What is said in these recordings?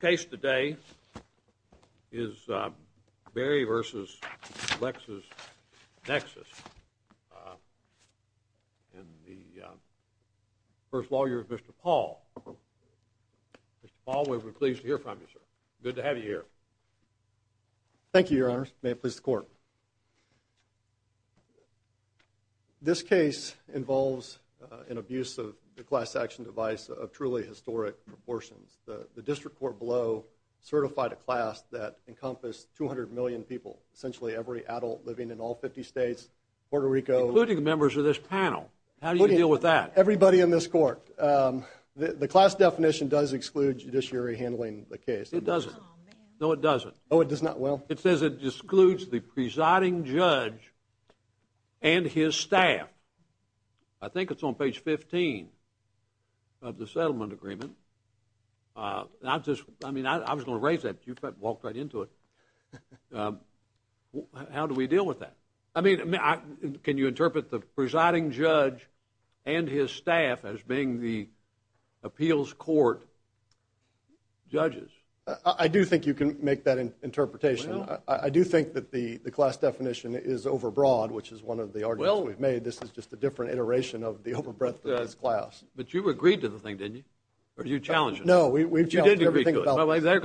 The case today is Berry v. LexisNexis and the first lawyer is Mr. Paul. Mr. Paul, we're pleased to hear from you, sir. Good to have you here. Thank you, Your Honors. May it please the Court. This case involves an abuse of the class action device of truly historic proportions. The district court below certified a class that encompassed 200 million people, essentially every adult living in all 50 states, Puerto Rico. Including the members of this panel. How do you deal with that? Everybody in this court. The class definition does exclude judiciary handling the case. It doesn't? No, it doesn't. Oh, it does not? Well. It says it excludes the presiding judge and his staff. I think it's on page 15 of the settlement agreement. I was going to raise that. You walked right into it. How do we deal with that? Can you interpret the presiding judge and his staff as being the appeals court judges? I do think you can make that interpretation. I do think that the class definition is overbroad, which is one of the arguments we've made. This is just a different iteration of the overbreadth of this class. But you agreed to the thing, didn't you? Or you challenged it? No, we challenged everything about this. They're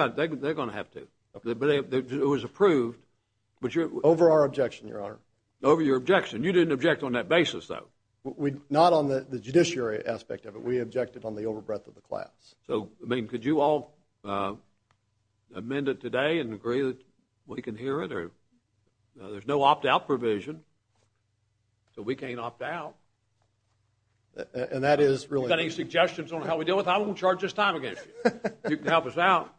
going to have to. It was approved. Over our objection, Your Honor. Over your objection. You didn't object on that basis, though. Not on the judiciary aspect of it. We objected on the overbreadth of the class. So, I mean, could you all amend it today and agree that we can hear it? There's no opt-out provision, so we can't opt out. And that is really— If you've got any suggestions on how we deal with it, I won't charge this time against you. You can help us out.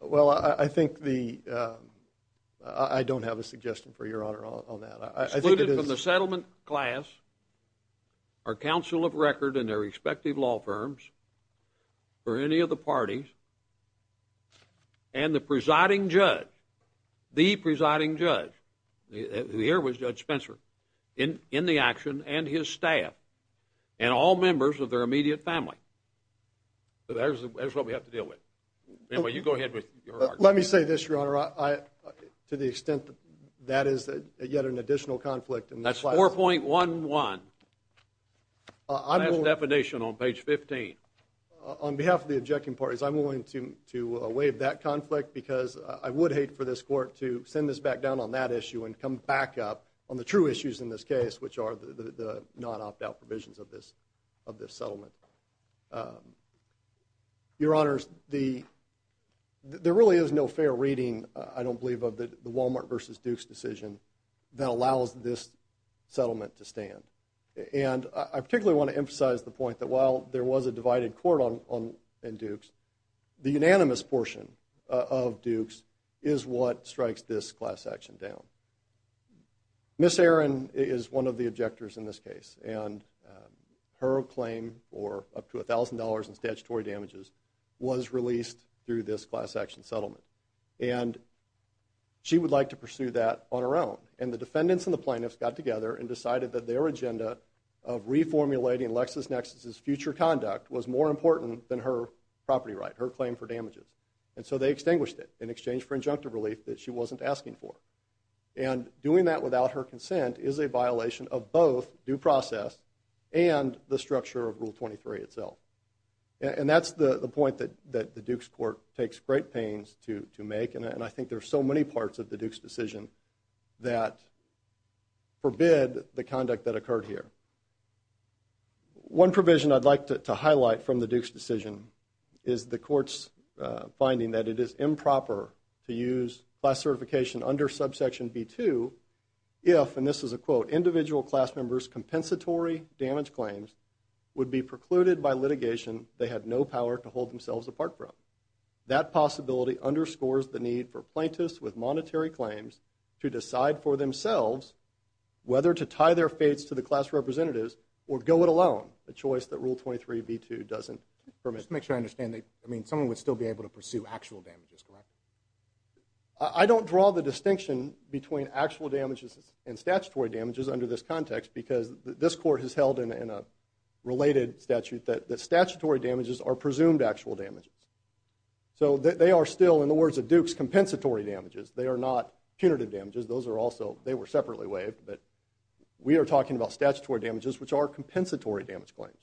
Well, I think the—I don't have a suggestion for Your Honor on that. Excluded from the settlement class are counsel of record and their respective law firms, or any of the parties, and the presiding judge, the presiding judge, who here was Judge Spencer, in the action, and his staff, and all members of their immediate family. So that's what we have to deal with. Anyway, you go ahead with your argument. Let me say this, Your Honor. To the extent that that is yet an additional conflict in this class— That's 4.11. Last definition on page 15. On behalf of the objecting parties, I'm willing to waive that conflict because I would hate for this court to send this back down on that issue and come back up on the true issues in this case, which are the non-opt-out provisions of this settlement. Your Honors, there really is no fair reading, I don't believe, of the Walmart v. Dukes decision that allows this settlement to stand. And I particularly want to emphasize the point that while there was a divided court in Dukes, the unanimous portion of Dukes is what strikes this class action down. Ms. Aaron is one of the objectors in this case, and her claim for up to $1,000 in statutory damages was released through this class action settlement. And she would like to pursue that on her own. And the defendants and the plaintiffs got together and decided that their agenda of reformulating LexisNexis's future conduct was more important than her property right, her claim for damages. And so they extinguished it in exchange for injunctive relief that she wasn't asking for. And doing that without her consent is a violation of both due process and the structure of Rule 23 itself. And that's the point that the Dukes court takes great pains to make, and I think there are so many parts of the Dukes decision that forbid the conduct that occurred here. One provision I'd like to highlight from the Dukes decision is the court's finding that it is improper to use class certification under subsection B2 if, and this is a quote, individual class members' compensatory damage claims would be precluded by litigation they had no power to hold themselves apart from. That possibility underscores the need for plaintiffs with monetary claims to decide for themselves whether to tie their fates to the class representatives or go it alone, a choice that Rule 23B2 doesn't permit. Just to make sure I understand, someone would still be able to pursue actual damages, correct? I don't draw the distinction between actual damages and statutory damages under this context because this court has held in a related statute that statutory damages are presumed actual damages. So they are still, in the words of Dukes, compensatory damages. They are not punitive damages. Those are also, they were separately waived, but we are talking about statutory damages which are compensatory damage claims.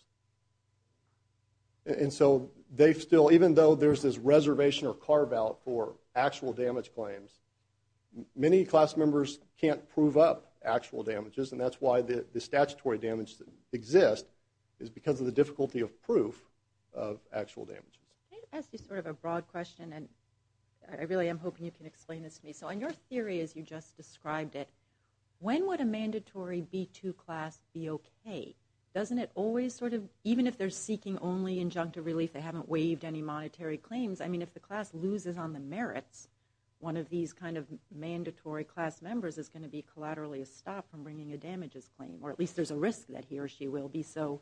And so they still, even though there's this reservation or carve out for actual damage claims, many class members can't prove up actual damages and that's why the statutory damage exists is because of the difficulty of proof of actual damages. Can I ask you sort of a broad question and I really am hoping you can explain this to me. So in your theory as you just described it, when would a mandatory B2 class be okay? Doesn't it always sort of, even if they're seeking only injunctive relief, they haven't waived any monetary claims, I mean if the class loses on the merits, one of these kind of mandatory class members is going to be collaterally stopped from bringing a damages claim or at least there's a risk that he or she will be so.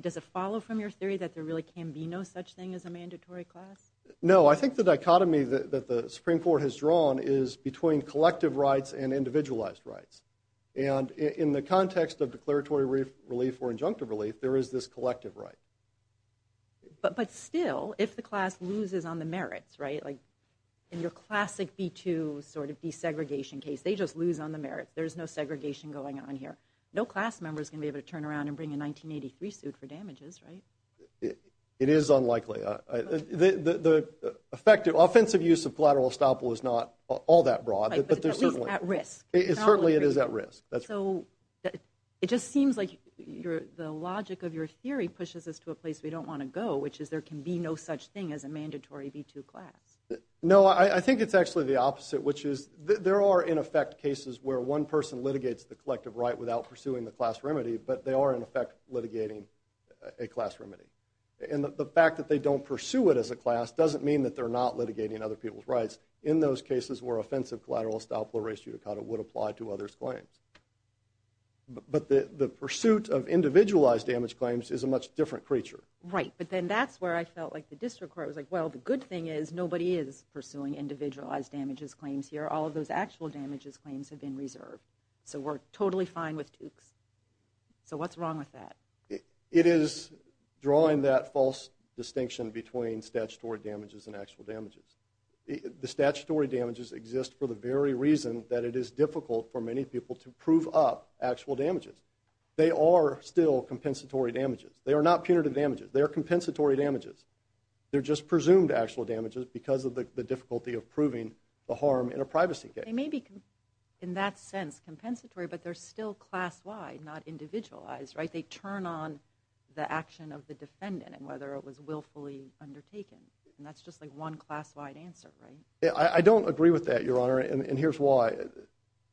Does it follow from your theory that there really can be no such thing as a mandatory class? No, I think the dichotomy that the Supreme Court has drawn is between collective rights and individualized rights. And in the context of declaratory relief or injunctive relief, there is this collective right. But still, if the class loses on the merits, right, like in your classic B2 sort of desegregation case, they just lose on the merits. There's no segregation going on here. No class member is going to be able to turn around and bring a 1983 suit for damages, right? It is unlikely. The effective offensive use of collateral estoppel is not all that broad. Right, but at least at risk. Certainly it is at risk. So it just seems like the logic of your theory pushes us to a place we don't want to go, which is there can be no such thing as a mandatory B2 class. No, I think it's actually the opposite, which is there are, in effect, cases where one person litigates the collective right without pursuing the class remedy, but they are, in effect, litigating a class remedy. And the fact that they don't pursue it as a class doesn't mean that they're not litigating other people's rights. In those cases where offensive collateral estoppel or res judicata would apply to others' claims. But the pursuit of individualized damage claims is a much different creature. Right, but then that's where I felt like the district court was like, well, the good thing is nobody is pursuing individualized damages claims here. All of those actual damages claims have been reserved. So we're totally fine with Dukes. So what's wrong with that? It is drawing that false distinction between statutory damages and actual damages. The statutory damages exist for the very reason that it is difficult for many people to prove up actual damages. They are still compensatory damages. They are not punitive damages. They are compensatory damages. They're just presumed actual damages because of the difficulty of proving the harm in a privacy case. They may be, in that sense, compensatory, but they're still class-wide, not individualized, right? They turn on the action of the defendant and whether it was willfully undertaken. And that's just like one class-wide answer, right? I don't agree with that, Your Honor, and here's why.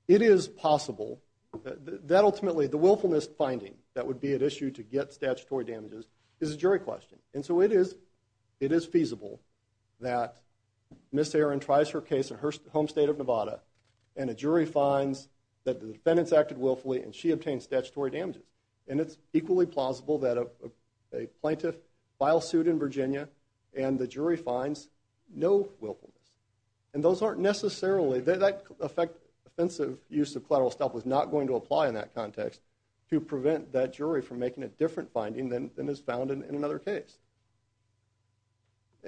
It is possible that ultimately the willfulness finding that would be at issue to get statutory damages is a jury question. And so it is feasible that Ms. Aaron tries her case in her home state of Nevada and a jury finds that the defendant's acted willfully and she obtained statutory damages. And it's equally plausible that a plaintiff filed suit in Virginia and the jury finds no willfulness. And those aren't necessarily, that offensive use of collateral stuff was not going to apply in that context to prevent that jury from making a different finding than is found in another case.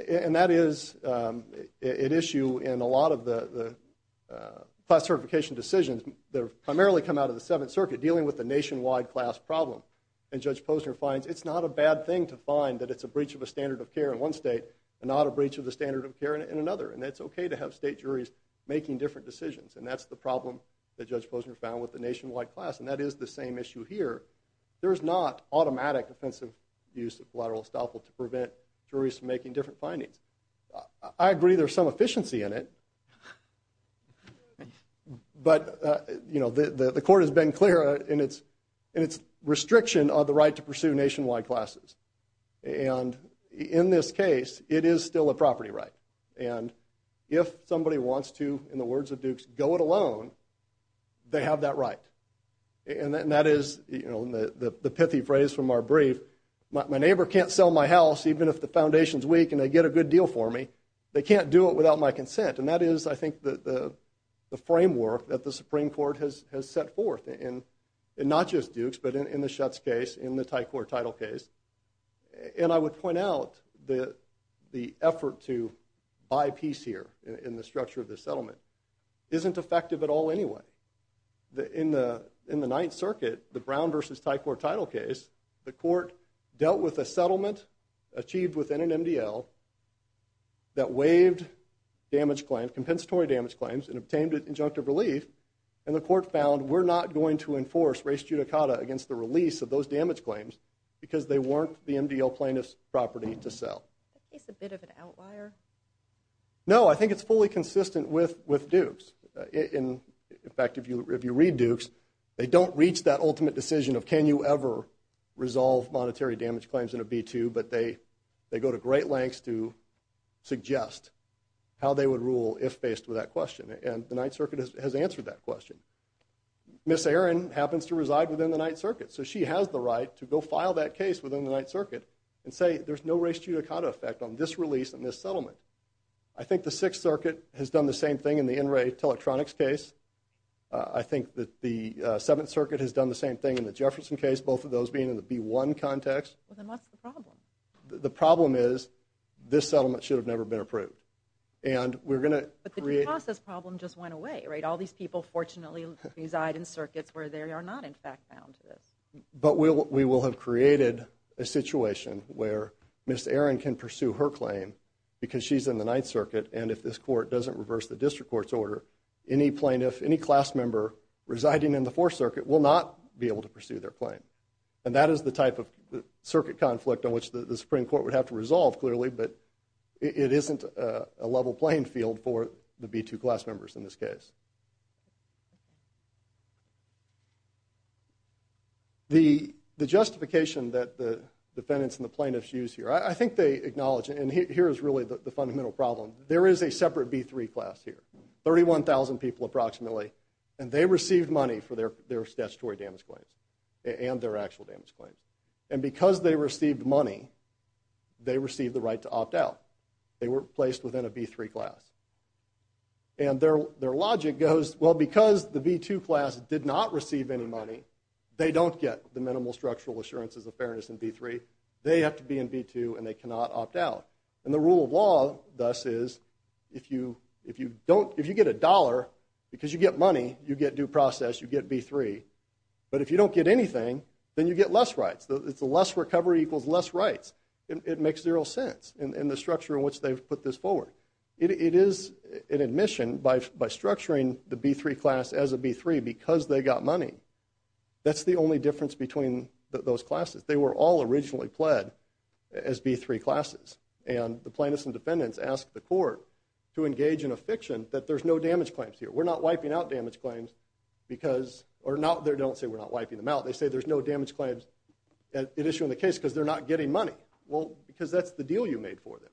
And that is at issue in a lot of the class certification decisions that have primarily come out of the Seventh Circuit dealing with the nationwide class problem. And Judge Posner finds it's not a bad thing to find that it's a breach of a standard of care in one state and not a breach of the standard of care in another. And it's okay to have state juries making different decisions. And that's the problem that Judge Posner found with the nationwide class. And that is the same issue here. There's not automatic offensive use of collateral estoppel to prevent juries from making different findings. I agree there's some efficiency in it. But, you know, the court has been clear in its restriction on the right to pursue nationwide classes. And in this case, it is still a property right. And if somebody wants to, in the words of Dukes, go it alone, they have that right. And that is, you know, the pithy phrase from our brief, my neighbor can't sell my house even if the foundation's weak and they get a good deal for me. They can't do it without my consent. And that is, I think, the framework that the Supreme Court has set forth in not just Dukes, but in the Schutz case, in the Thai Court title case. And I would point out the effort to buy peace here in the structure of the settlement isn't effective at all anyway. In the Ninth Circuit, the Brown v. Thai Court title case, the court dealt with a settlement achieved within an MDL that waived damage claims, compensatory damage claims, and obtained an injunctive relief. And the court found we're not going to enforce res judicata against the release of those damage claims because they weren't the MDL plaintiff's property to sell. Is this a bit of an outlier? No, I think it's fully consistent with Dukes. In fact, if you read Dukes, they don't reach that ultimate decision of can you ever resolve monetary damage claims in a B-2, but they go to great lengths to suggest how they would rule if faced with that question. And the Ninth Circuit has answered that question. Ms. Aaron happens to reside within the Ninth Circuit, so she has the right to go file that case within the Ninth Circuit and say there's no res judicata effect on this release and this settlement. I think the Sixth Circuit has done the same thing in the Enright Electronics case. I think that the Seventh Circuit has done the same thing in the Jefferson case, both of those being in the B-1 context. Well, then what's the problem? The problem is this settlement should have never been approved. But the due process problem just went away, right? All these people fortunately reside in circuits where they are not, in fact, bound to this. But we will have created a situation where Ms. Aaron can pursue her claim because she's in the Ninth Circuit, and if this court doesn't reverse the district court's order, any plaintiff, any class member residing in the Fourth Circuit will not be able to pursue their claim. And that is the type of circuit conflict on which the Supreme Court would have to resolve, clearly, but it isn't a level playing field for the B-2 class members in this case. The justification that the defendants and the plaintiffs use here, I think they acknowledge, and here is really the fundamental problem. There is a separate B-3 class here, 31,000 people approximately, and they received money for their statutory damage claims and their actual damage claims. And because they received money, they received the right to opt out. They were placed within a B-3 class. And their logic goes, well, because the B-2 class did not receive any money, they don't get the minimal structural assurances of fairness in B-3. They have to be in B-2 and they cannot opt out. And the rule of law, thus, is if you get a dollar because you get money, you get due process, you get B-3. But if you don't get anything, then you get less rights. It's a less recovery equals less rights. It makes zero sense in the structure in which they've put this forward. It is an admission by structuring the B-3 class as a B-3 because they got money. That's the only difference between those classes. They were all originally pled as B-3 classes. And the plaintiffs and defendants asked the court to engage in a fiction that there's no damage claims here. We're not wiping out damage claims because or not they don't say we're not wiping them out. They say there's no damage claims at issue in the case because they're not getting money. Well, because that's the deal you made for them.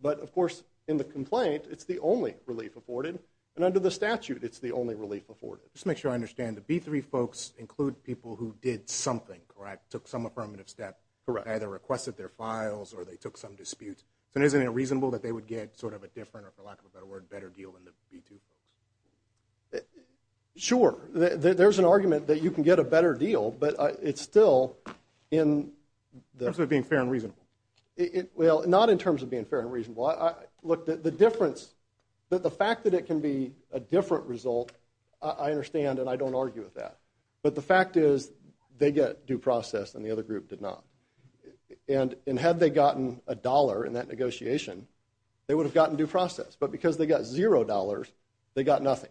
But, of course, in the complaint, it's the only relief afforded. And under the statute, it's the only relief afforded. Just to make sure I understand, the B-3 folks include people who did something, correct, took some affirmative step. Correct. Either requested their files or they took some dispute. And isn't it reasonable that they would get sort of a different or, for lack of a better word, better deal than the B-2 folks? Sure. There's an argument that you can get a better deal, but it's still in the… In terms of it being fair and reasonable. Well, not in terms of being fair and reasonable. Look, the difference, the fact that it can be a different result, I understand and I don't argue with that. But the fact is they get due process and the other group did not. And had they gotten a dollar in that negotiation, they would have gotten due process. But because they got zero dollars, they got nothing.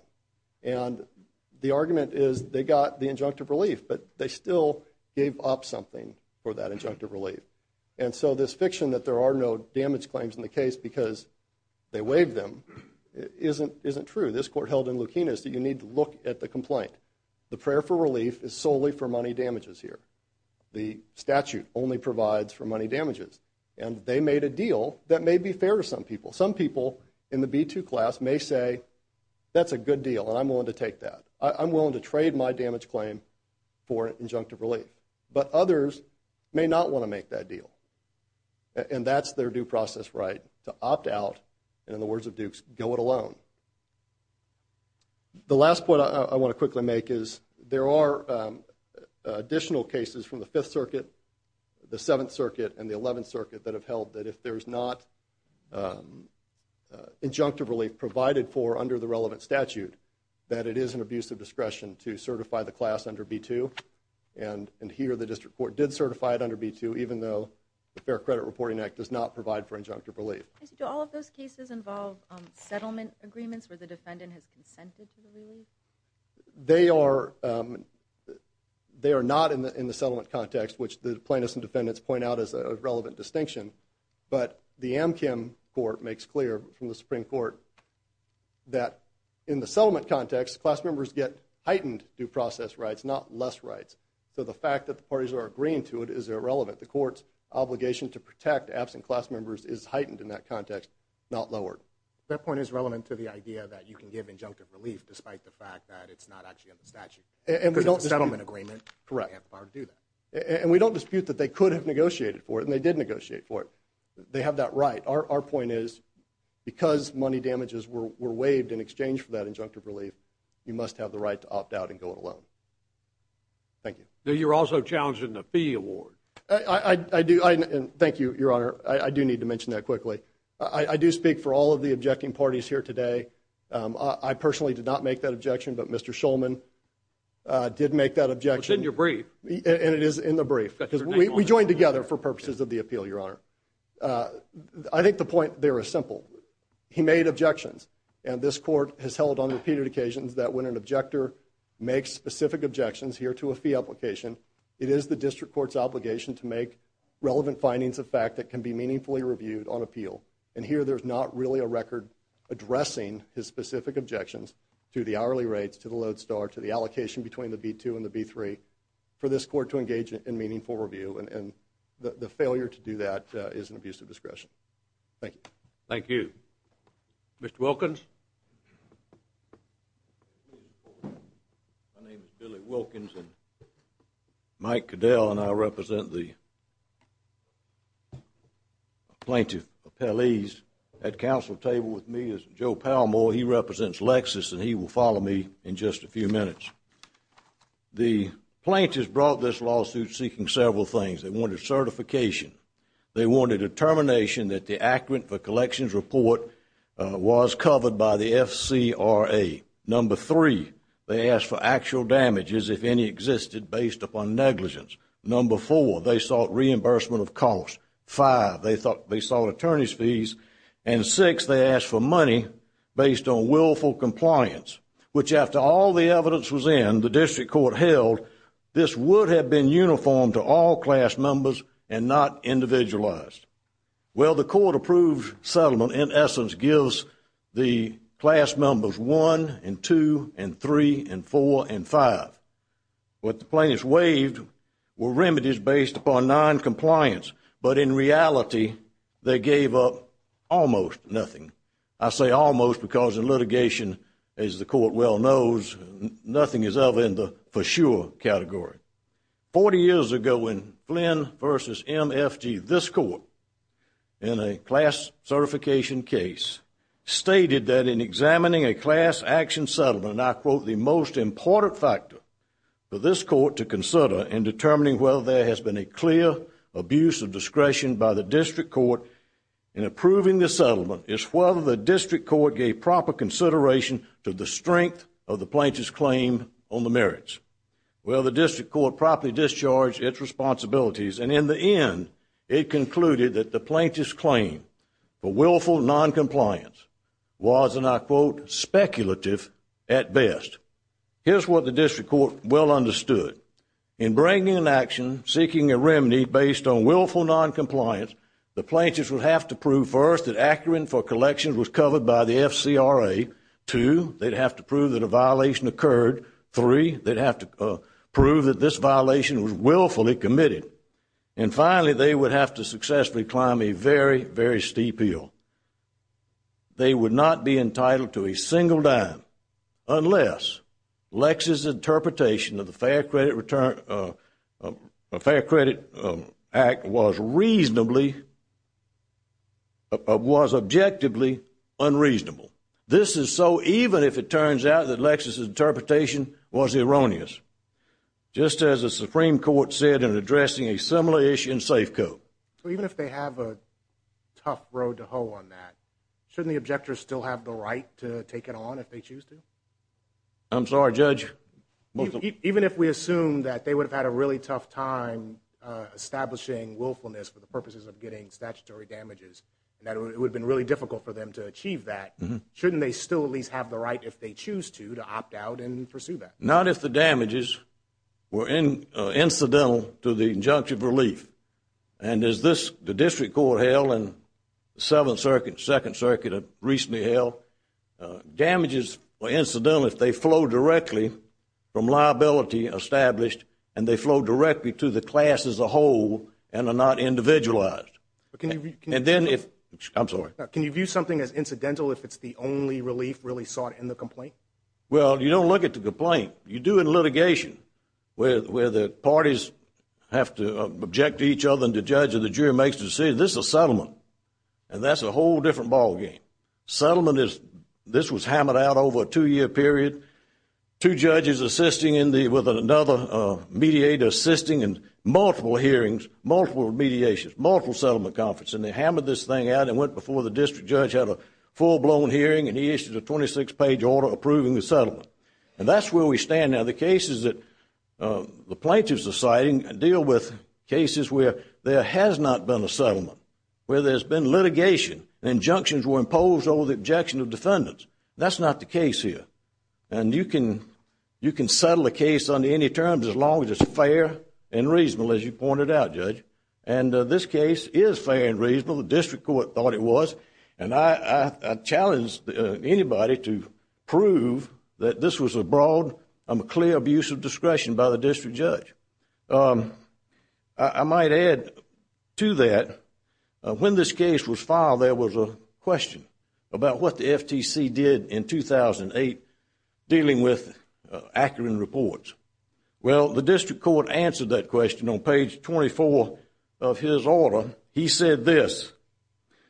And the argument is they got the injunctive relief, but they still gave up something for that injunctive relief. And so this fiction that there are no damage claims in the case because they waived them isn't true. This court held in Lukinas that you need to look at the complaint. The prayer for relief is solely for money damages here. The statute only provides for money damages. And they made a deal that may be fair to some people. Some people in the B-2 class may say, that's a good deal and I'm willing to take that. I'm willing to trade my damage claim for injunctive relief. But others may not want to make that deal. And that's their due process right, to opt out and in the words of Dukes, go it alone. The last point I want to quickly make is there are additional cases from the Fifth Circuit, the Seventh Circuit and the Eleventh Circuit that have held that if there's not injunctive relief provided for under the relevant statute, that it is an abuse of discretion to certify the class under B-2. And here the District Court did certify it under B-2, even though the Fair Credit Reporting Act does not provide for injunctive relief. Do all of those cases involve settlement agreements where the defendant has consented to the relief? They are not in the settlement context, which the plaintiffs and defendants point out as a relevant distinction. But the Amchem Court makes clear from the Supreme Court that in the settlement context, class members get heightened due process rights, not less rights. So the fact that the parties are agreeing to it is irrelevant. The court's obligation to protect absent class members is heightened in that context, not lowered. That point is relevant to the idea that you can give injunctive relief despite the fact that it's not actually under statute. Because it's a settlement agreement. Correct. And we don't dispute that they could have negotiated for it and they did negotiate for it. They have that right. Our point is because money damages were waived in exchange for that injunctive relief, you must have the right to opt out and go it alone. Thank you. You're also challenging the fee award. I do. Thank you, Your Honor. I do need to mention that quickly. I do speak for all of the objecting parties here today. I personally did not make that objection, but Mr. Shulman did make that objection. It's in your brief. And it is in the brief. We joined together for purposes of the appeal, Your Honor. I think the point there is simple. He made objections. And this court has held on repeated occasions that when an objector makes specific objections here to a fee application, it is the district court's obligation to make relevant findings of fact that can be meaningfully reviewed on appeal. And here there's not really a record addressing his specific objections to the hourly rates, to the load star, to the allocation between the B-2 and the B-3 for this court to engage in meaningful review. And the failure to do that is an abuse of discretion. Thank you. Thank you. Mr. Wilkins? My name is Billy Wilkins, and Mike Cadell and I represent the plaintiff appellees. At the council table with me is Joe Palmore. He represents Lexis, and he will follow me in just a few minutes. The plaintiffs brought this lawsuit seeking several things. They wanted certification. They wanted a determination that the accurate for collections report was covered by the FCRA. Number three, they asked for actual damages, if any existed, based upon negligence. Number four, they sought reimbursement of costs. Five, they sought attorney's fees. And six, they asked for money based on willful compliance, which after all the evidence was in, the district court held this would have been uniform to all class members and not individualized. Well, the court approved settlement in essence gives the class members one and two and three and four and five. What the plaintiffs waived were remedies based upon noncompliance, but in reality they gave up almost nothing. I say almost because in litigation, as the court well knows, nothing is ever in the for sure category. Forty years ago when Flynn v. MFG, this court, in a class certification case, stated that in examining a class action settlement, I quote, the most important factor for this court to consider in determining whether there has been a clear abuse of discretion by the district court in approving the settlement is whether the district court gave proper consideration to the strength of the plaintiff's claim on the merits. Well, the district court properly discharged its responsibilities, and in the end, it concluded that the plaintiff's claim for willful noncompliance was, and I quote, speculative at best. Here's what the district court well understood. In bringing an action seeking a remedy based on willful noncompliance, the plaintiffs would have to prove first that Akron for collections was covered by the FCRA. Two, they'd have to prove that a violation occurred. Three, they'd have to prove that this violation was willfully committed. And finally, they would have to successfully climb a very, very steep hill. They would not be entitled to a single dime unless Lex's interpretation of the Fair Credit Act was reasonably, was objectively unreasonable. This is so even if it turns out that Lex's interpretation was erroneous. Just as the Supreme Court said in addressing a similar issue in Safeco. So even if they have a tough road to hoe on that, shouldn't the objectors still have the right to take it on if they choose to? I'm sorry, Judge? Even if we assume that they would have had a really tough time establishing willfulness for the purposes of getting statutory damages and that it would have been really difficult for them to achieve that, shouldn't they still at least have the right if they choose to to opt out and pursue that? Not if the damages were incidental to the injunction of relief. And as the District Court held and the Second Circuit recently held, damages were incidental if they flowed directly from liability established and they flowed directly to the class as a whole and are not individualized. Can you view something as incidental if it's the only relief really sought in the complaint? Well, you don't look at the complaint. You do in litigation where the parties have to object to each other and the judge or the jury makes the decision. This is a settlement, and that's a whole different ballgame. Settlement is this was hammered out over a two-year period, two judges assisting with another mediator assisting in multiple hearings, multiple mediations, multiple settlement conferences, and they hammered this thing out and went before the district judge, had a full-blown hearing, and he issued a 26-page order approving the settlement. And that's where we stand now. The cases that the plaintiffs are citing deal with cases where there has not been a settlement, where there's been litigation, injunctions were imposed over the objection of defendants. That's not the case here. And you can settle a case under any terms as long as it's fair and reasonable, as you pointed out, Judge. And this case is fair and reasonable. The District Court thought it was. And I challenge anybody to prove that this was a broad and clear abuse of discretion by the district judge. I might add to that, when this case was filed, there was a question about what the FTC did in 2008 dealing with Akron Reports. Well, the District Court answered that question on page 24 of his order. He said this,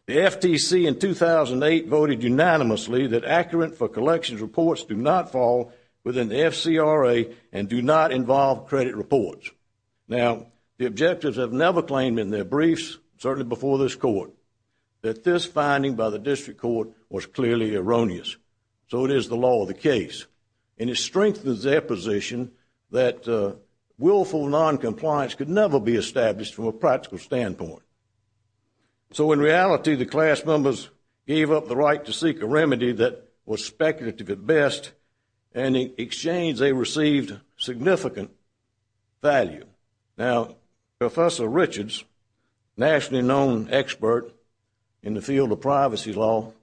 the FTC in 2008 voted unanimously that Akron for Collections Reports do not fall within the FCRA and do not involve credit reports. Now, the objectors have never claimed in their briefs, certainly before this court, that this finding by the District Court was clearly erroneous. So it is the law of the case. And it strengthens their position that willful noncompliance could never be established from a practical standpoint. So in reality, the class members gave up the right to seek a remedy that was speculative at best, and in exchange they received significant value. Now, Professor Richards, nationally known expert in the field of privacy law,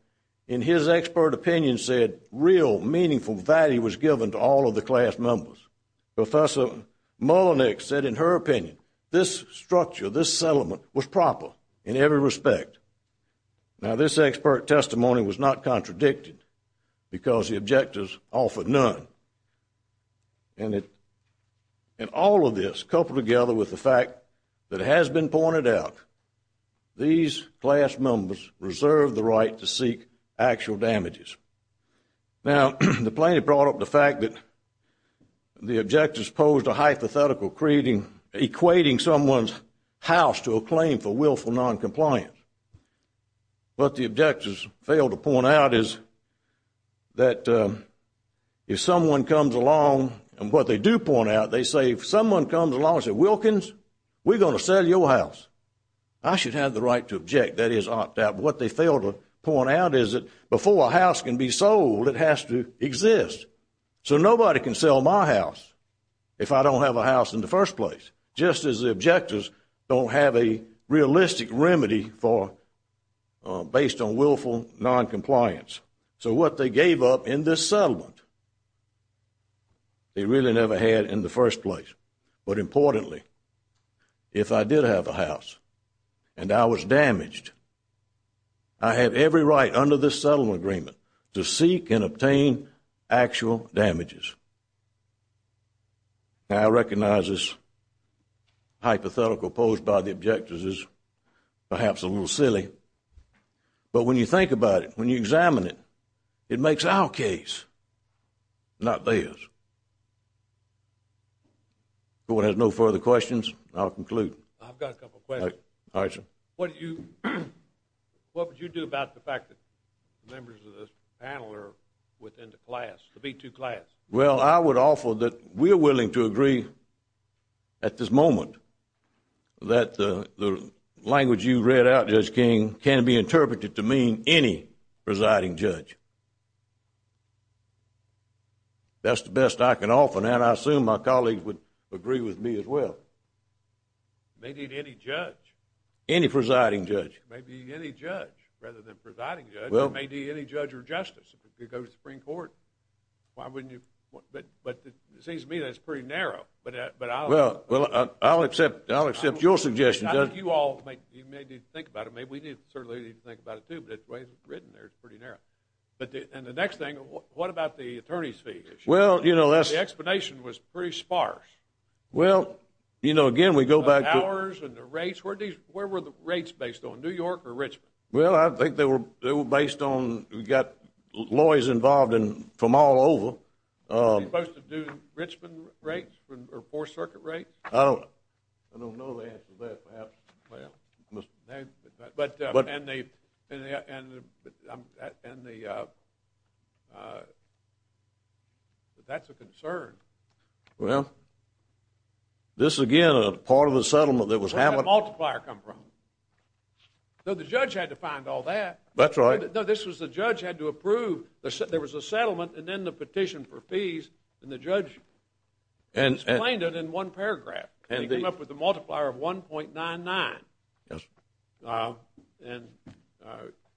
in his expert opinion said real meaningful value was given to all of the class members. Professor Mullenix said in her opinion this structure, this settlement, was proper in every respect. Now, this expert testimony was not contradicted because the objectors offered none. And all of this coupled together with the fact that it has been pointed out, these class members reserved the right to seek actual damages. Now, the plaintiff brought up the fact that the objectors posed a hypothetical, equating someone's house to a claim for willful noncompliance. What the objectors failed to point out is that if someone comes along, and what they do point out, they say if someone comes along and says, Wilkins, we're going to sell your house, I should have the right to object. That is opt out. But what they failed to point out is that before a house can be sold, it has to exist. So nobody can sell my house if I don't have a house in the first place, just as the objectors don't have a realistic remedy based on willful noncompliance. So what they gave up in this settlement, they really never had in the first place. But importantly, if I did have a house and I was damaged, I have every right under this settlement agreement to seek and obtain actual damages. Now, I recognize this hypothetical posed by the objectors is perhaps a little silly. But when you think about it, when you examine it, it makes our case, not theirs. If no one has no further questions, I'll conclude. I've got a couple of questions. All right, sir. What would you do about the fact that members of this panel are within the class, the B2 class? Well, I would offer that we are willing to agree at this moment that the language you read out, Judge King, can be interpreted to mean any presiding judge. That's the best I can offer, and I assume my colleagues would agree with me as well. Maybe any judge. Any presiding judge. Maybe any judge rather than presiding judge. It may be any judge or justice. If it could go to the Supreme Court, why wouldn't you? But it seems to me that's pretty narrow. Well, I'll accept your suggestion, Judge. I think you all may need to think about it. We certainly need to think about it too, but the way it's written there, it's pretty narrow. And the next thing, what about the attorney's fee issue? The explanation was pretty sparse. Well, you know, again, we go back to— Where were the rates based on, New York or Richmond? Well, I think they were based on—we've got lawyers involved from all over. Are they supposed to do Richmond rates or Fourth Circuit rates? I don't know the answer to that, perhaps. But that's a concern. Well, this, again, is part of a settlement that was having— Where did that multiplier come from? No, the judge had to find all that. That's right. No, this was the judge had to approve. There was a settlement, and then the petition for fees, and the judge explained it in one paragraph. And he came up with a multiplier of 1.99. Yes. And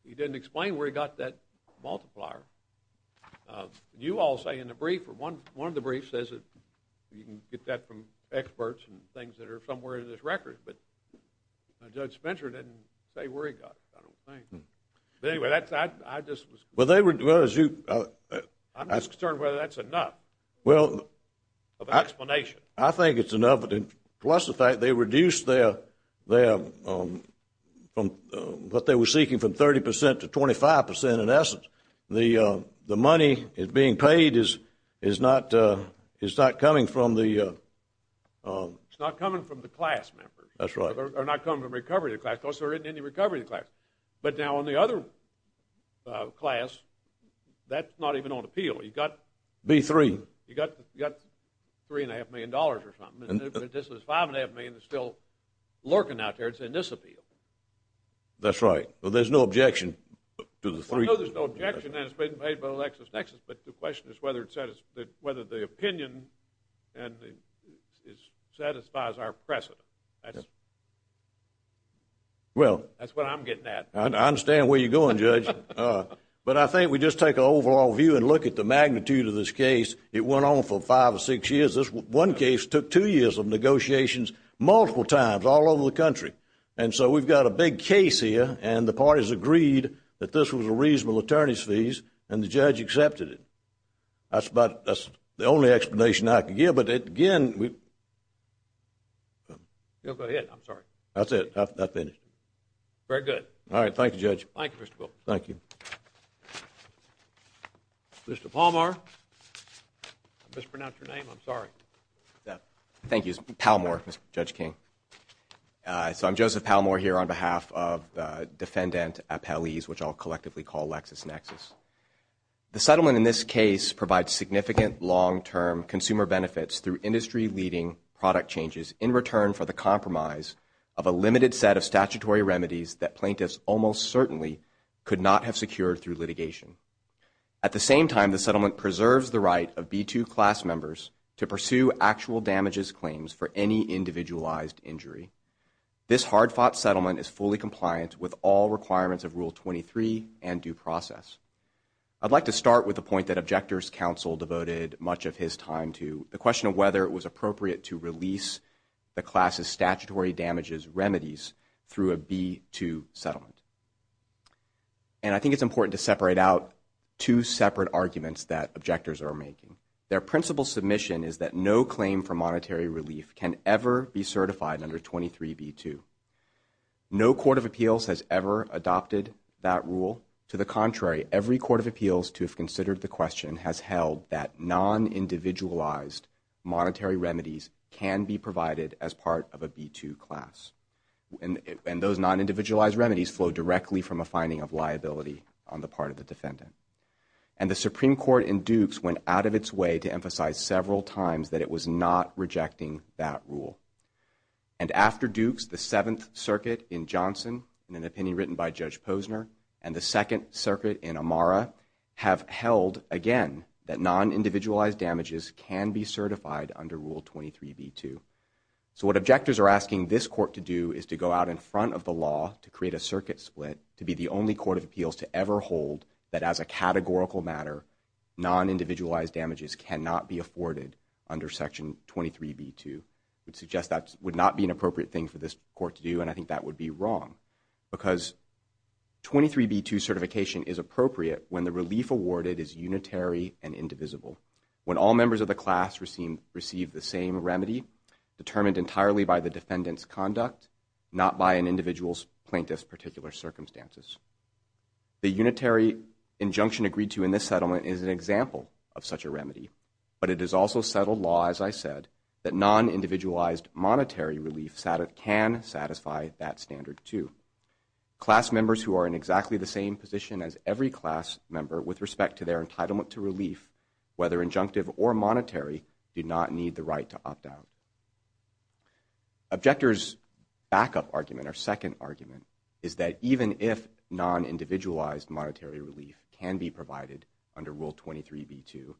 he didn't explain where he got that multiplier. You all say in the brief, or one of the briefs says it, you can get that from experts and things that are somewhere in this record, but Judge Spencer didn't say where he got it, I don't think. But anyway, that's—I just was— Well, they were— I'm just concerned whether that's enough of an explanation. I think it's enough, plus the fact they reduced their— what they were seeking from 30 percent to 25 percent, in essence. The money that's being paid is not coming from the— That's right. Are not coming from recovery of the class. Of course, there isn't any recovery of the class. But now on the other class, that's not even on appeal. You've got— B-3. You've got $3.5 million or something, and this is $5.5 million that's still lurking out there. It's in disappeal. That's right. Well, there's no objection to the three— Well, I know there's no objection, and it's being paid by LexisNexis, but the question is whether the opinion satisfies our precedent. Well— That's what I'm getting at. I understand where you're going, Judge. But I think we just take an overall view and look at the magnitude of this case. It went on for five or six years. This one case took two years of negotiations multiple times all over the country. And so we've got a big case here, and the parties agreed that this was a reasonable attorney's fees, and the judge accepted it. That's about—that's the only explanation I can give. But, again, we— Go ahead. I'm sorry. That's it. I've finished. Very good. All right. Thank you, Judge. Thank you, Mr. Wilk. Thank you. Mr. Palmore. I mispronounced your name. I'm sorry. Thank you. Palmore, Judge King. So I'm Joseph Palmore here on behalf of the defendant appellees, which I'll collectively call LexisNexis. The settlement in this case provides significant long-term consumer benefits through industry-leading product changes in return for the compromise of a limited set of statutory remedies that plaintiffs almost certainly could not have secured through litigation. At the same time, the settlement preserves the right of B2 class members to pursue actual damages claims for any individualized injury. This hard-fought settlement is fully compliant with all requirements of Rule 23 and due process. I'd like to start with the point that Objectors' Counsel devoted much of his time to, the question of whether it was appropriate to release the class's statutory damages remedies through a B2 settlement. And I think it's important to separate out two separate arguments that Objectors are making. Their principal submission is that no claim for monetary relief can ever be certified under 23B2. No court of appeals has ever adopted that rule. To the contrary, every court of appeals to have considered the question has held that non-individualized monetary remedies can be provided as part of a B2 class. And those non-individualized remedies flow directly from a finding of liability on the part of the defendant. And the Supreme Court in Dukes went out of its way to emphasize several times that it was not rejecting that rule. And after Dukes, the Seventh Circuit in Johnson, in an opinion written by Judge Posner, and the Second Circuit in Amara have held, again, that non-individualized damages can be certified under Rule 23B2. So what Objectors are asking this court to do is to go out in front of the law to create a circuit split to be the only court of appeals to ever hold that as a categorical matter, non-individualized damages cannot be afforded under Section 23B2. I would suggest that would not be an appropriate thing for this court to do, and I think that would be wrong. Because 23B2 certification is appropriate when the relief awarded is unitary and indivisible. When all members of the class receive the same remedy, determined entirely by the defendant's conduct, not by an individual's plaintiff's particular circumstances. The unitary injunction agreed to in this settlement is an example of such a remedy, but it is also settled law, as I said, that non-individualized monetary relief can satisfy that standard too. Class members who are in exactly the same position as every class member with respect to their entitlement to relief, whether injunctive or monetary, do not need the right to opt out. Objectors' backup argument, or second argument, is that even if non-individualized monetary relief can be provided under Rule 23B2,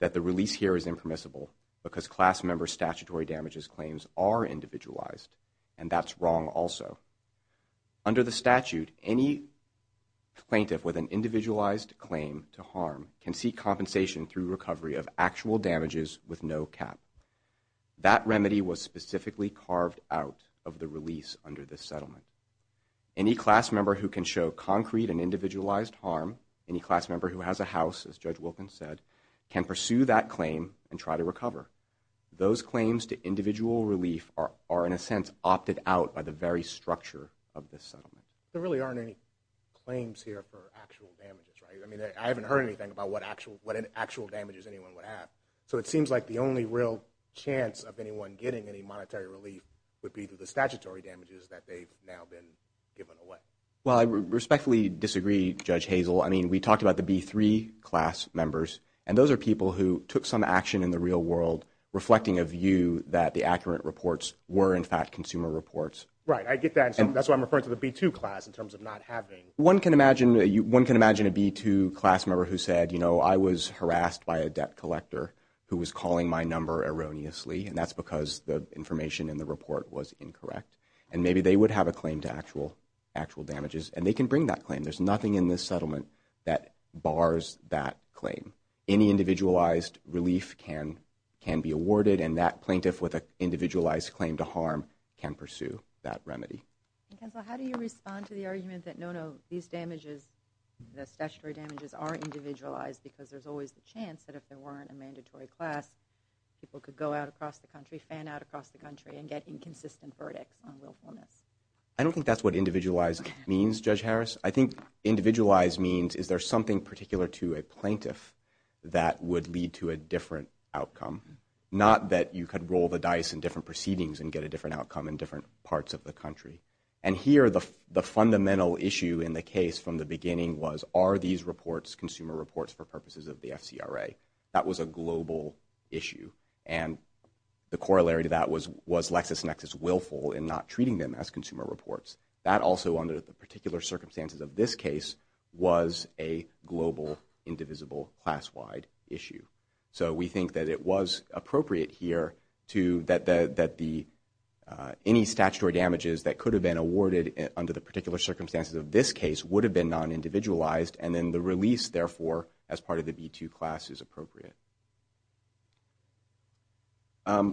that the release here is impermissible, because class members' statutory damages claims are individualized, and that's wrong also. Under the statute, any plaintiff with an individualized claim to harm can seek compensation through recovery of actual damages with no cap. That remedy was specifically carved out of the release under this settlement. Any class member who can show concrete and individualized harm, any class member who has a house, as Judge Wilkins said, can pursue that claim and try to recover. Those claims to individual relief are, in a sense, opted out of the very structure of this settlement. There really aren't any claims here for actual damages, right? I mean, I haven't heard anything about what actual damages anyone would have. So it seems like the only real chance of anyone getting any monetary relief would be through the statutory damages that they've now been given away. Well, I respectfully disagree, Judge Hazel. I mean, we talked about the B3 class members, and those are people who took some action in the real world, reflecting a view that the accurate reports were, in fact, consumer reports. Right, I get that. That's why I'm referring to the B2 class in terms of not having. One can imagine a B2 class member who said, you know, I was harassed by a debt collector who was calling my number erroneously, and that's because the information in the report was incorrect. And maybe they would have a claim to actual damages, and they can bring that claim. There's nothing in this settlement that bars that claim. Any individualized relief can be awarded, How do you respond to the argument that, no, no, these damages, the statutory damages are individualized because there's always the chance that if there weren't a mandatory class, people could go out across the country, fan out across the country, and get inconsistent verdicts on willfulness? I don't think that's what individualized means, Judge Harris. I think individualized means is there something particular to a plaintiff that would lead to a different outcome, not that you could roll the dice in different proceedings and get a different outcome in different parts of the country. And here, the fundamental issue in the case from the beginning was, are these reports consumer reports for purposes of the FCRA? That was a global issue. And the corollary to that was, was LexisNexis willful in not treating them as consumer reports? That also, under the particular circumstances of this case, was a global, indivisible, class-wide issue. So we think that it was appropriate here to, that any statutory damages that could have been awarded under the particular circumstances of this case would have been non-individualized, and then the release, therefore, as part of the B2 class is appropriate. I'd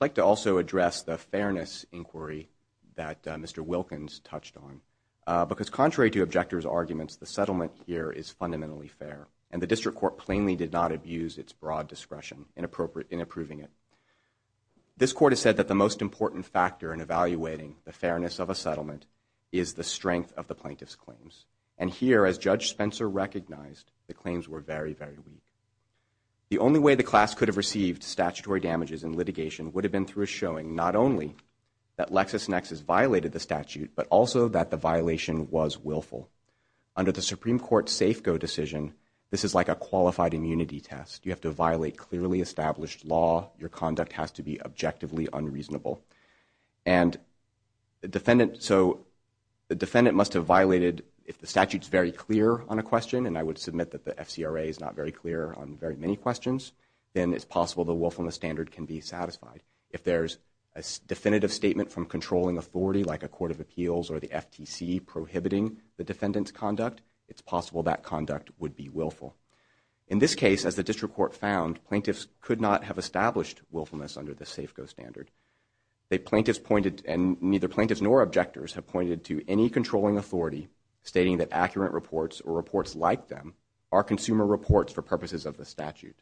like to also address the fairness inquiry that Mr. Wilkins touched on, because contrary to objectors' arguments, the settlement here is fundamentally fair, and the district court plainly did not abuse its broad discretion in approving it. This court has said that the most important factor in evaluating the fairness of a settlement is the strength of the plaintiff's claims. And here, as Judge Spencer recognized, the claims were very, very weak. The only way the class could have received statutory damages in litigation would have been through a showing not only that LexisNexis violated the statute, but also that the violation was willful. Under the Supreme Court's Safeco decision, this is like a qualified immunity test. You have to violate clearly established law. Your conduct has to be objectively unreasonable. And the defendant, so the defendant must have violated, if the statute's very clear on a question, and I would submit that the FCRA is not very clear on very many questions, then it's possible the willfulness standard can be satisfied. If there's a definitive statement from controlling authority, like a court of appeals or the FTC prohibiting the defendant's conduct, it's possible that conduct would be willful. In this case, as the district court found, plaintiffs could not have established willfulness under the Safeco standard. Neither plaintiffs nor objectors have pointed to any controlling authority stating that accurate reports or reports like them are consumer reports for purposes of the statute.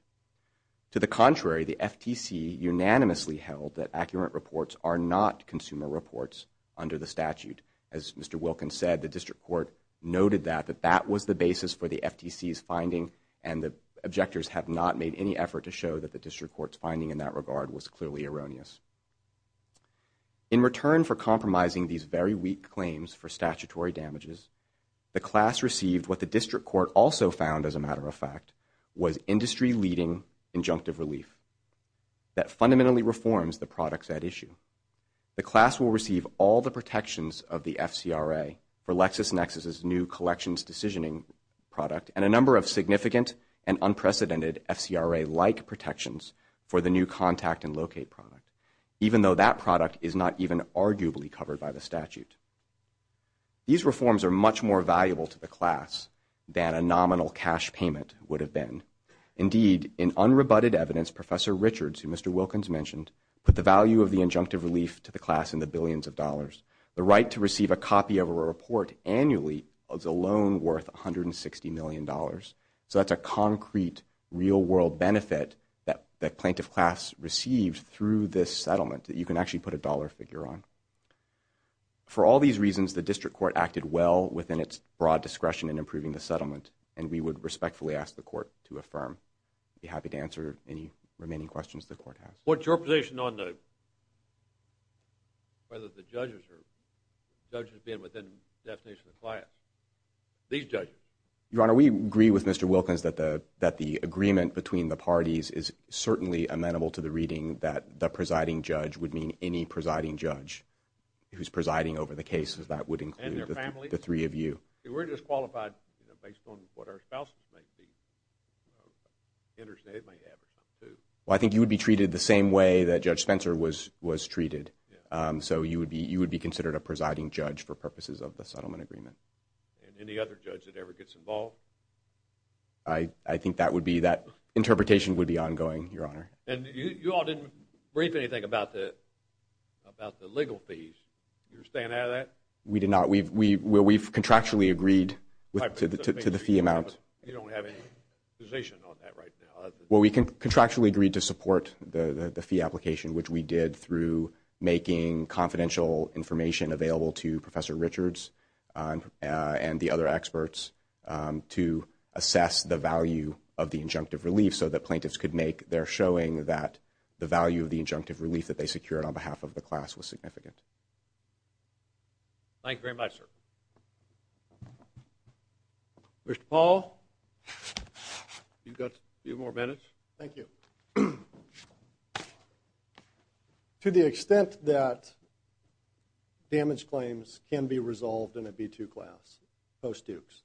To the contrary, the FTC unanimously held that accurate reports are not consumer reports under the statute. As Mr. Wilkins said, the district court noted that, that that was the basis for the FTC's finding, and the objectors have not made any effort to show that the district court's finding in that regard was clearly erroneous. In return for compromising these very weak claims for statutory damages, the class received what the district court also found, as a matter of fact, was industry-leading injunctive relief that fundamentally reforms the products at issue. The class will receive all the protections of the FCRA for LexisNexis' new collections decisioning product and a number of significant and unprecedented FCRA-like protections for the new contact and locate product, even though that product is not even arguably covered by the statute. These reforms are much more valuable to the class than a nominal cash payment would have been. Indeed, in unrebutted evidence, Professor Richards, who Mr. Wilkins mentioned, put the value of the injunctive relief to the class in the billions of dollars. The right to receive a copy of a report annually is alone worth $160 million. So that's a concrete, real-world benefit that plaintiff class received through this settlement that you can actually put a dollar figure on. For all these reasons, the district court acted well within its broad discretion in approving the settlement, and we would respectfully ask the court to affirm. I'd be happy to answer any remaining questions the court has. What's your position on whether the judges have been within the definition of the class? These judges. Your Honor, we agree with Mr. Wilkins that the agreement between the parties is certainly amenable to the reading that the presiding judge would mean any presiding judge who's presiding over the cases. That would include the three of you. We're just qualified based on what our spouses may be, you know, interested, may have or something, too. Well, I think you would be treated the same way that Judge Spencer was treated. So you would be considered a presiding judge for purposes of the settlement agreement. And any other judge that ever gets involved? I think that would be, that interpretation would be ongoing, Your Honor. And you all didn't brief anything about the legal fees. You're staying out of that? We did not. We've contractually agreed to the fee amount. You don't have any position on that right now? Well, we contractually agreed to support the fee application, which we did through making confidential information available to Professor Richards and the other experts to assess the value of the injunctive relief so that plaintiffs could make their showing that the value of the injunctive relief that they secured on behalf of the class was significant. Thank you very much, sir. Mr. Paul, you've got a few more minutes. Thank you. To the extent that damage claims can be resolved in a B-2 class post-Dukes,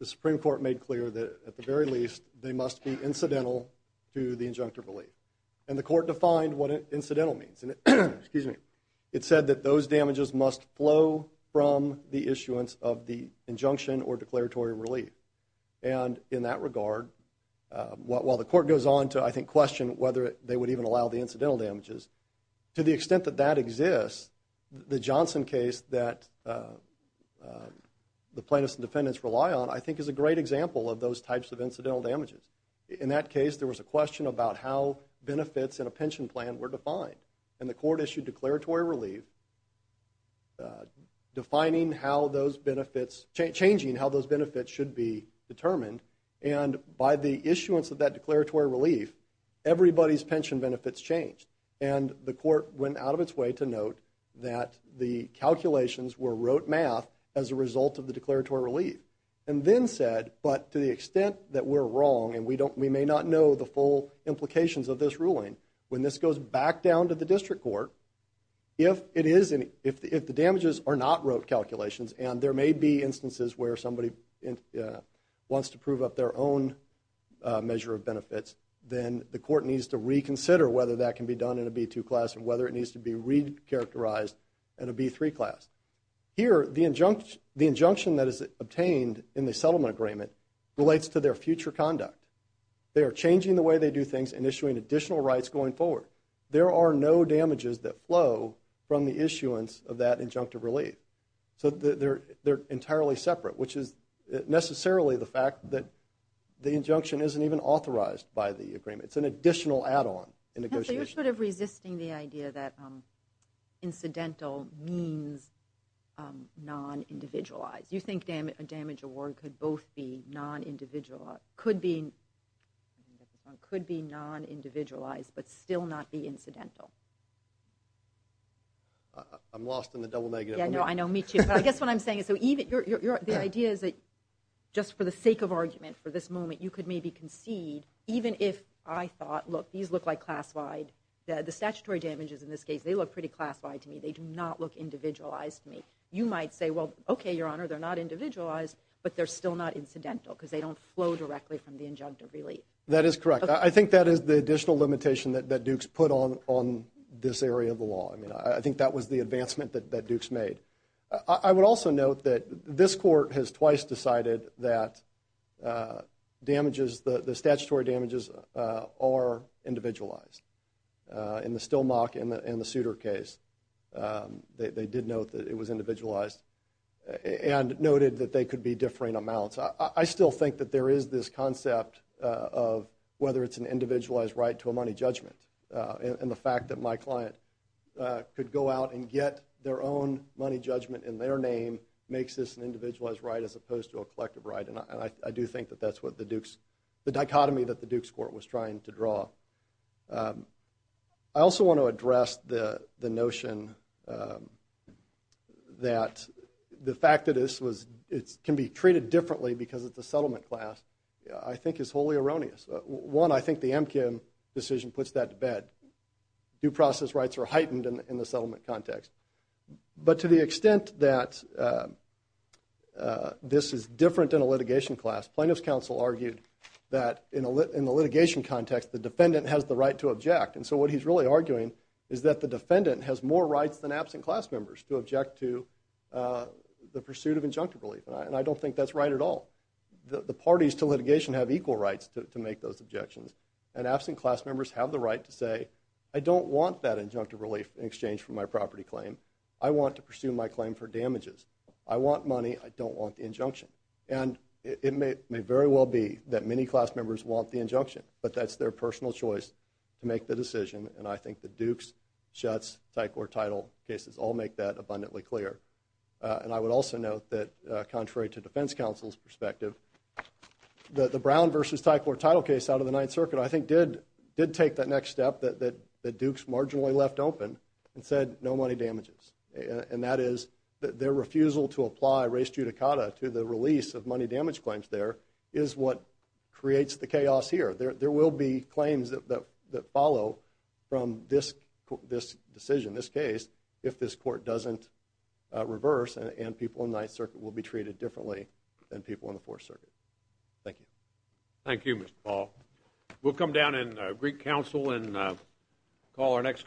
the Supreme Court made clear that, at the very least, they must be incidental to the injunctive relief. And the court defined what incidental means. It said that those damages must flow from the issuance of the injunction or declaratory relief. And in that regard, while the court goes on to, I think, question whether they would even allow the incidental damages, to the extent that that exists, the Johnson case that the plaintiffs and defendants rely on, I think is a great example of those types of incidental damages. In that case, there was a question about how benefits in a pension plan were defined. And the court issued declaratory relief, defining how those benefits, changing how those benefits should be determined. And by the issuance of that declaratory relief, everybody's pension benefits changed. And the court went out of its way to note that the calculations were rote math as a result of the declaratory relief, and then said, but to the extent that we're wrong, and we may not know the full implications of this ruling, when this goes back down to the district court, if the damages are not rote calculations, and there may be instances where somebody wants to prove up their own measure of benefits, then the court needs to reconsider whether that can be done in a B2 class and whether it needs to be re-characterized in a B3 class. Here, the injunction that is obtained in the settlement agreement relates to their future conduct. They are changing the way they do things and issuing additional rights going forward. There are no damages that flow from the issuance of that injunctive relief. So they're entirely separate, which is necessarily the fact that the injunction isn't even authorized by the agreement. It's an additional add-on in negotiation. You're sort of resisting the idea that incidental means non-individualized. Do you think a damage award could both be non-individualized but still not be incidental? I'm lost in the double negative. Yeah, I know. Me too. But I guess what I'm saying is the idea is that just for the sake of argument for this moment, you could maybe concede, even if I thought, look, these look like classified. The statutory damages in this case, they look pretty classified to me. They do not look individualized to me. You might say, well, OK, Your Honor, they're not individualized, but they're still not incidental because they don't flow directly from the injunctive relief. That is correct. I think that is the additional limitation that Dukes put on this area of the law. I think that was the advancement that Dukes made. I would also note that this court has twice decided that the statutory damages are individualized. In the Stillmock and the Souter case, they did note that it was individualized and noted that they could be differing amounts. I still think that there is this concept of whether it's an individualized right to a money judgment. And the fact that my client could go out and get their own money judgment in their name makes this an individualized right as opposed to a collective right. And I do think that that's what the Dukes, the dichotomy that the Dukes court was trying to draw. I also want to address the notion that the fact that this can be treated differently because it's a settlement class, I think is wholly erroneous. One, I think the Emkin decision puts that to bed. Due process rights are heightened in the settlement context. But to the extent that this is different in a litigation class, plaintiff's counsel argued that in the litigation context, the defendant has the right to object. And so what he's really arguing is that the defendant has more rights than absent class members to object to the pursuit of injunctive relief. And I don't think that's right at all. The parties to litigation have equal rights to make those objections. And absent class members have the right to say, I don't want that injunctive relief in exchange for my property claim. I want to pursue my claim for damages. And it may very well be that many class members want the injunction, but that's their personal choice to make the decision. And I think the Dukes, Shutz, Thai Court title cases all make that abundantly clear. And I would also note that, contrary to defense counsel's perspective, the Brown versus Thai Court title case out of the Ninth Circuit, I think, did take that next step that Dukes marginally left open and said, no money damages. And that is their refusal to apply res judicata to the release of money damage claims there is what creates the chaos here. There will be claims that follow from this decision, this case, if this court doesn't reverse and people in Ninth Circuit will be treated differently than people in the Fourth Circuit. Thank you. Thank you, Mr. Paul. We'll come down in Greek Council and call our next case.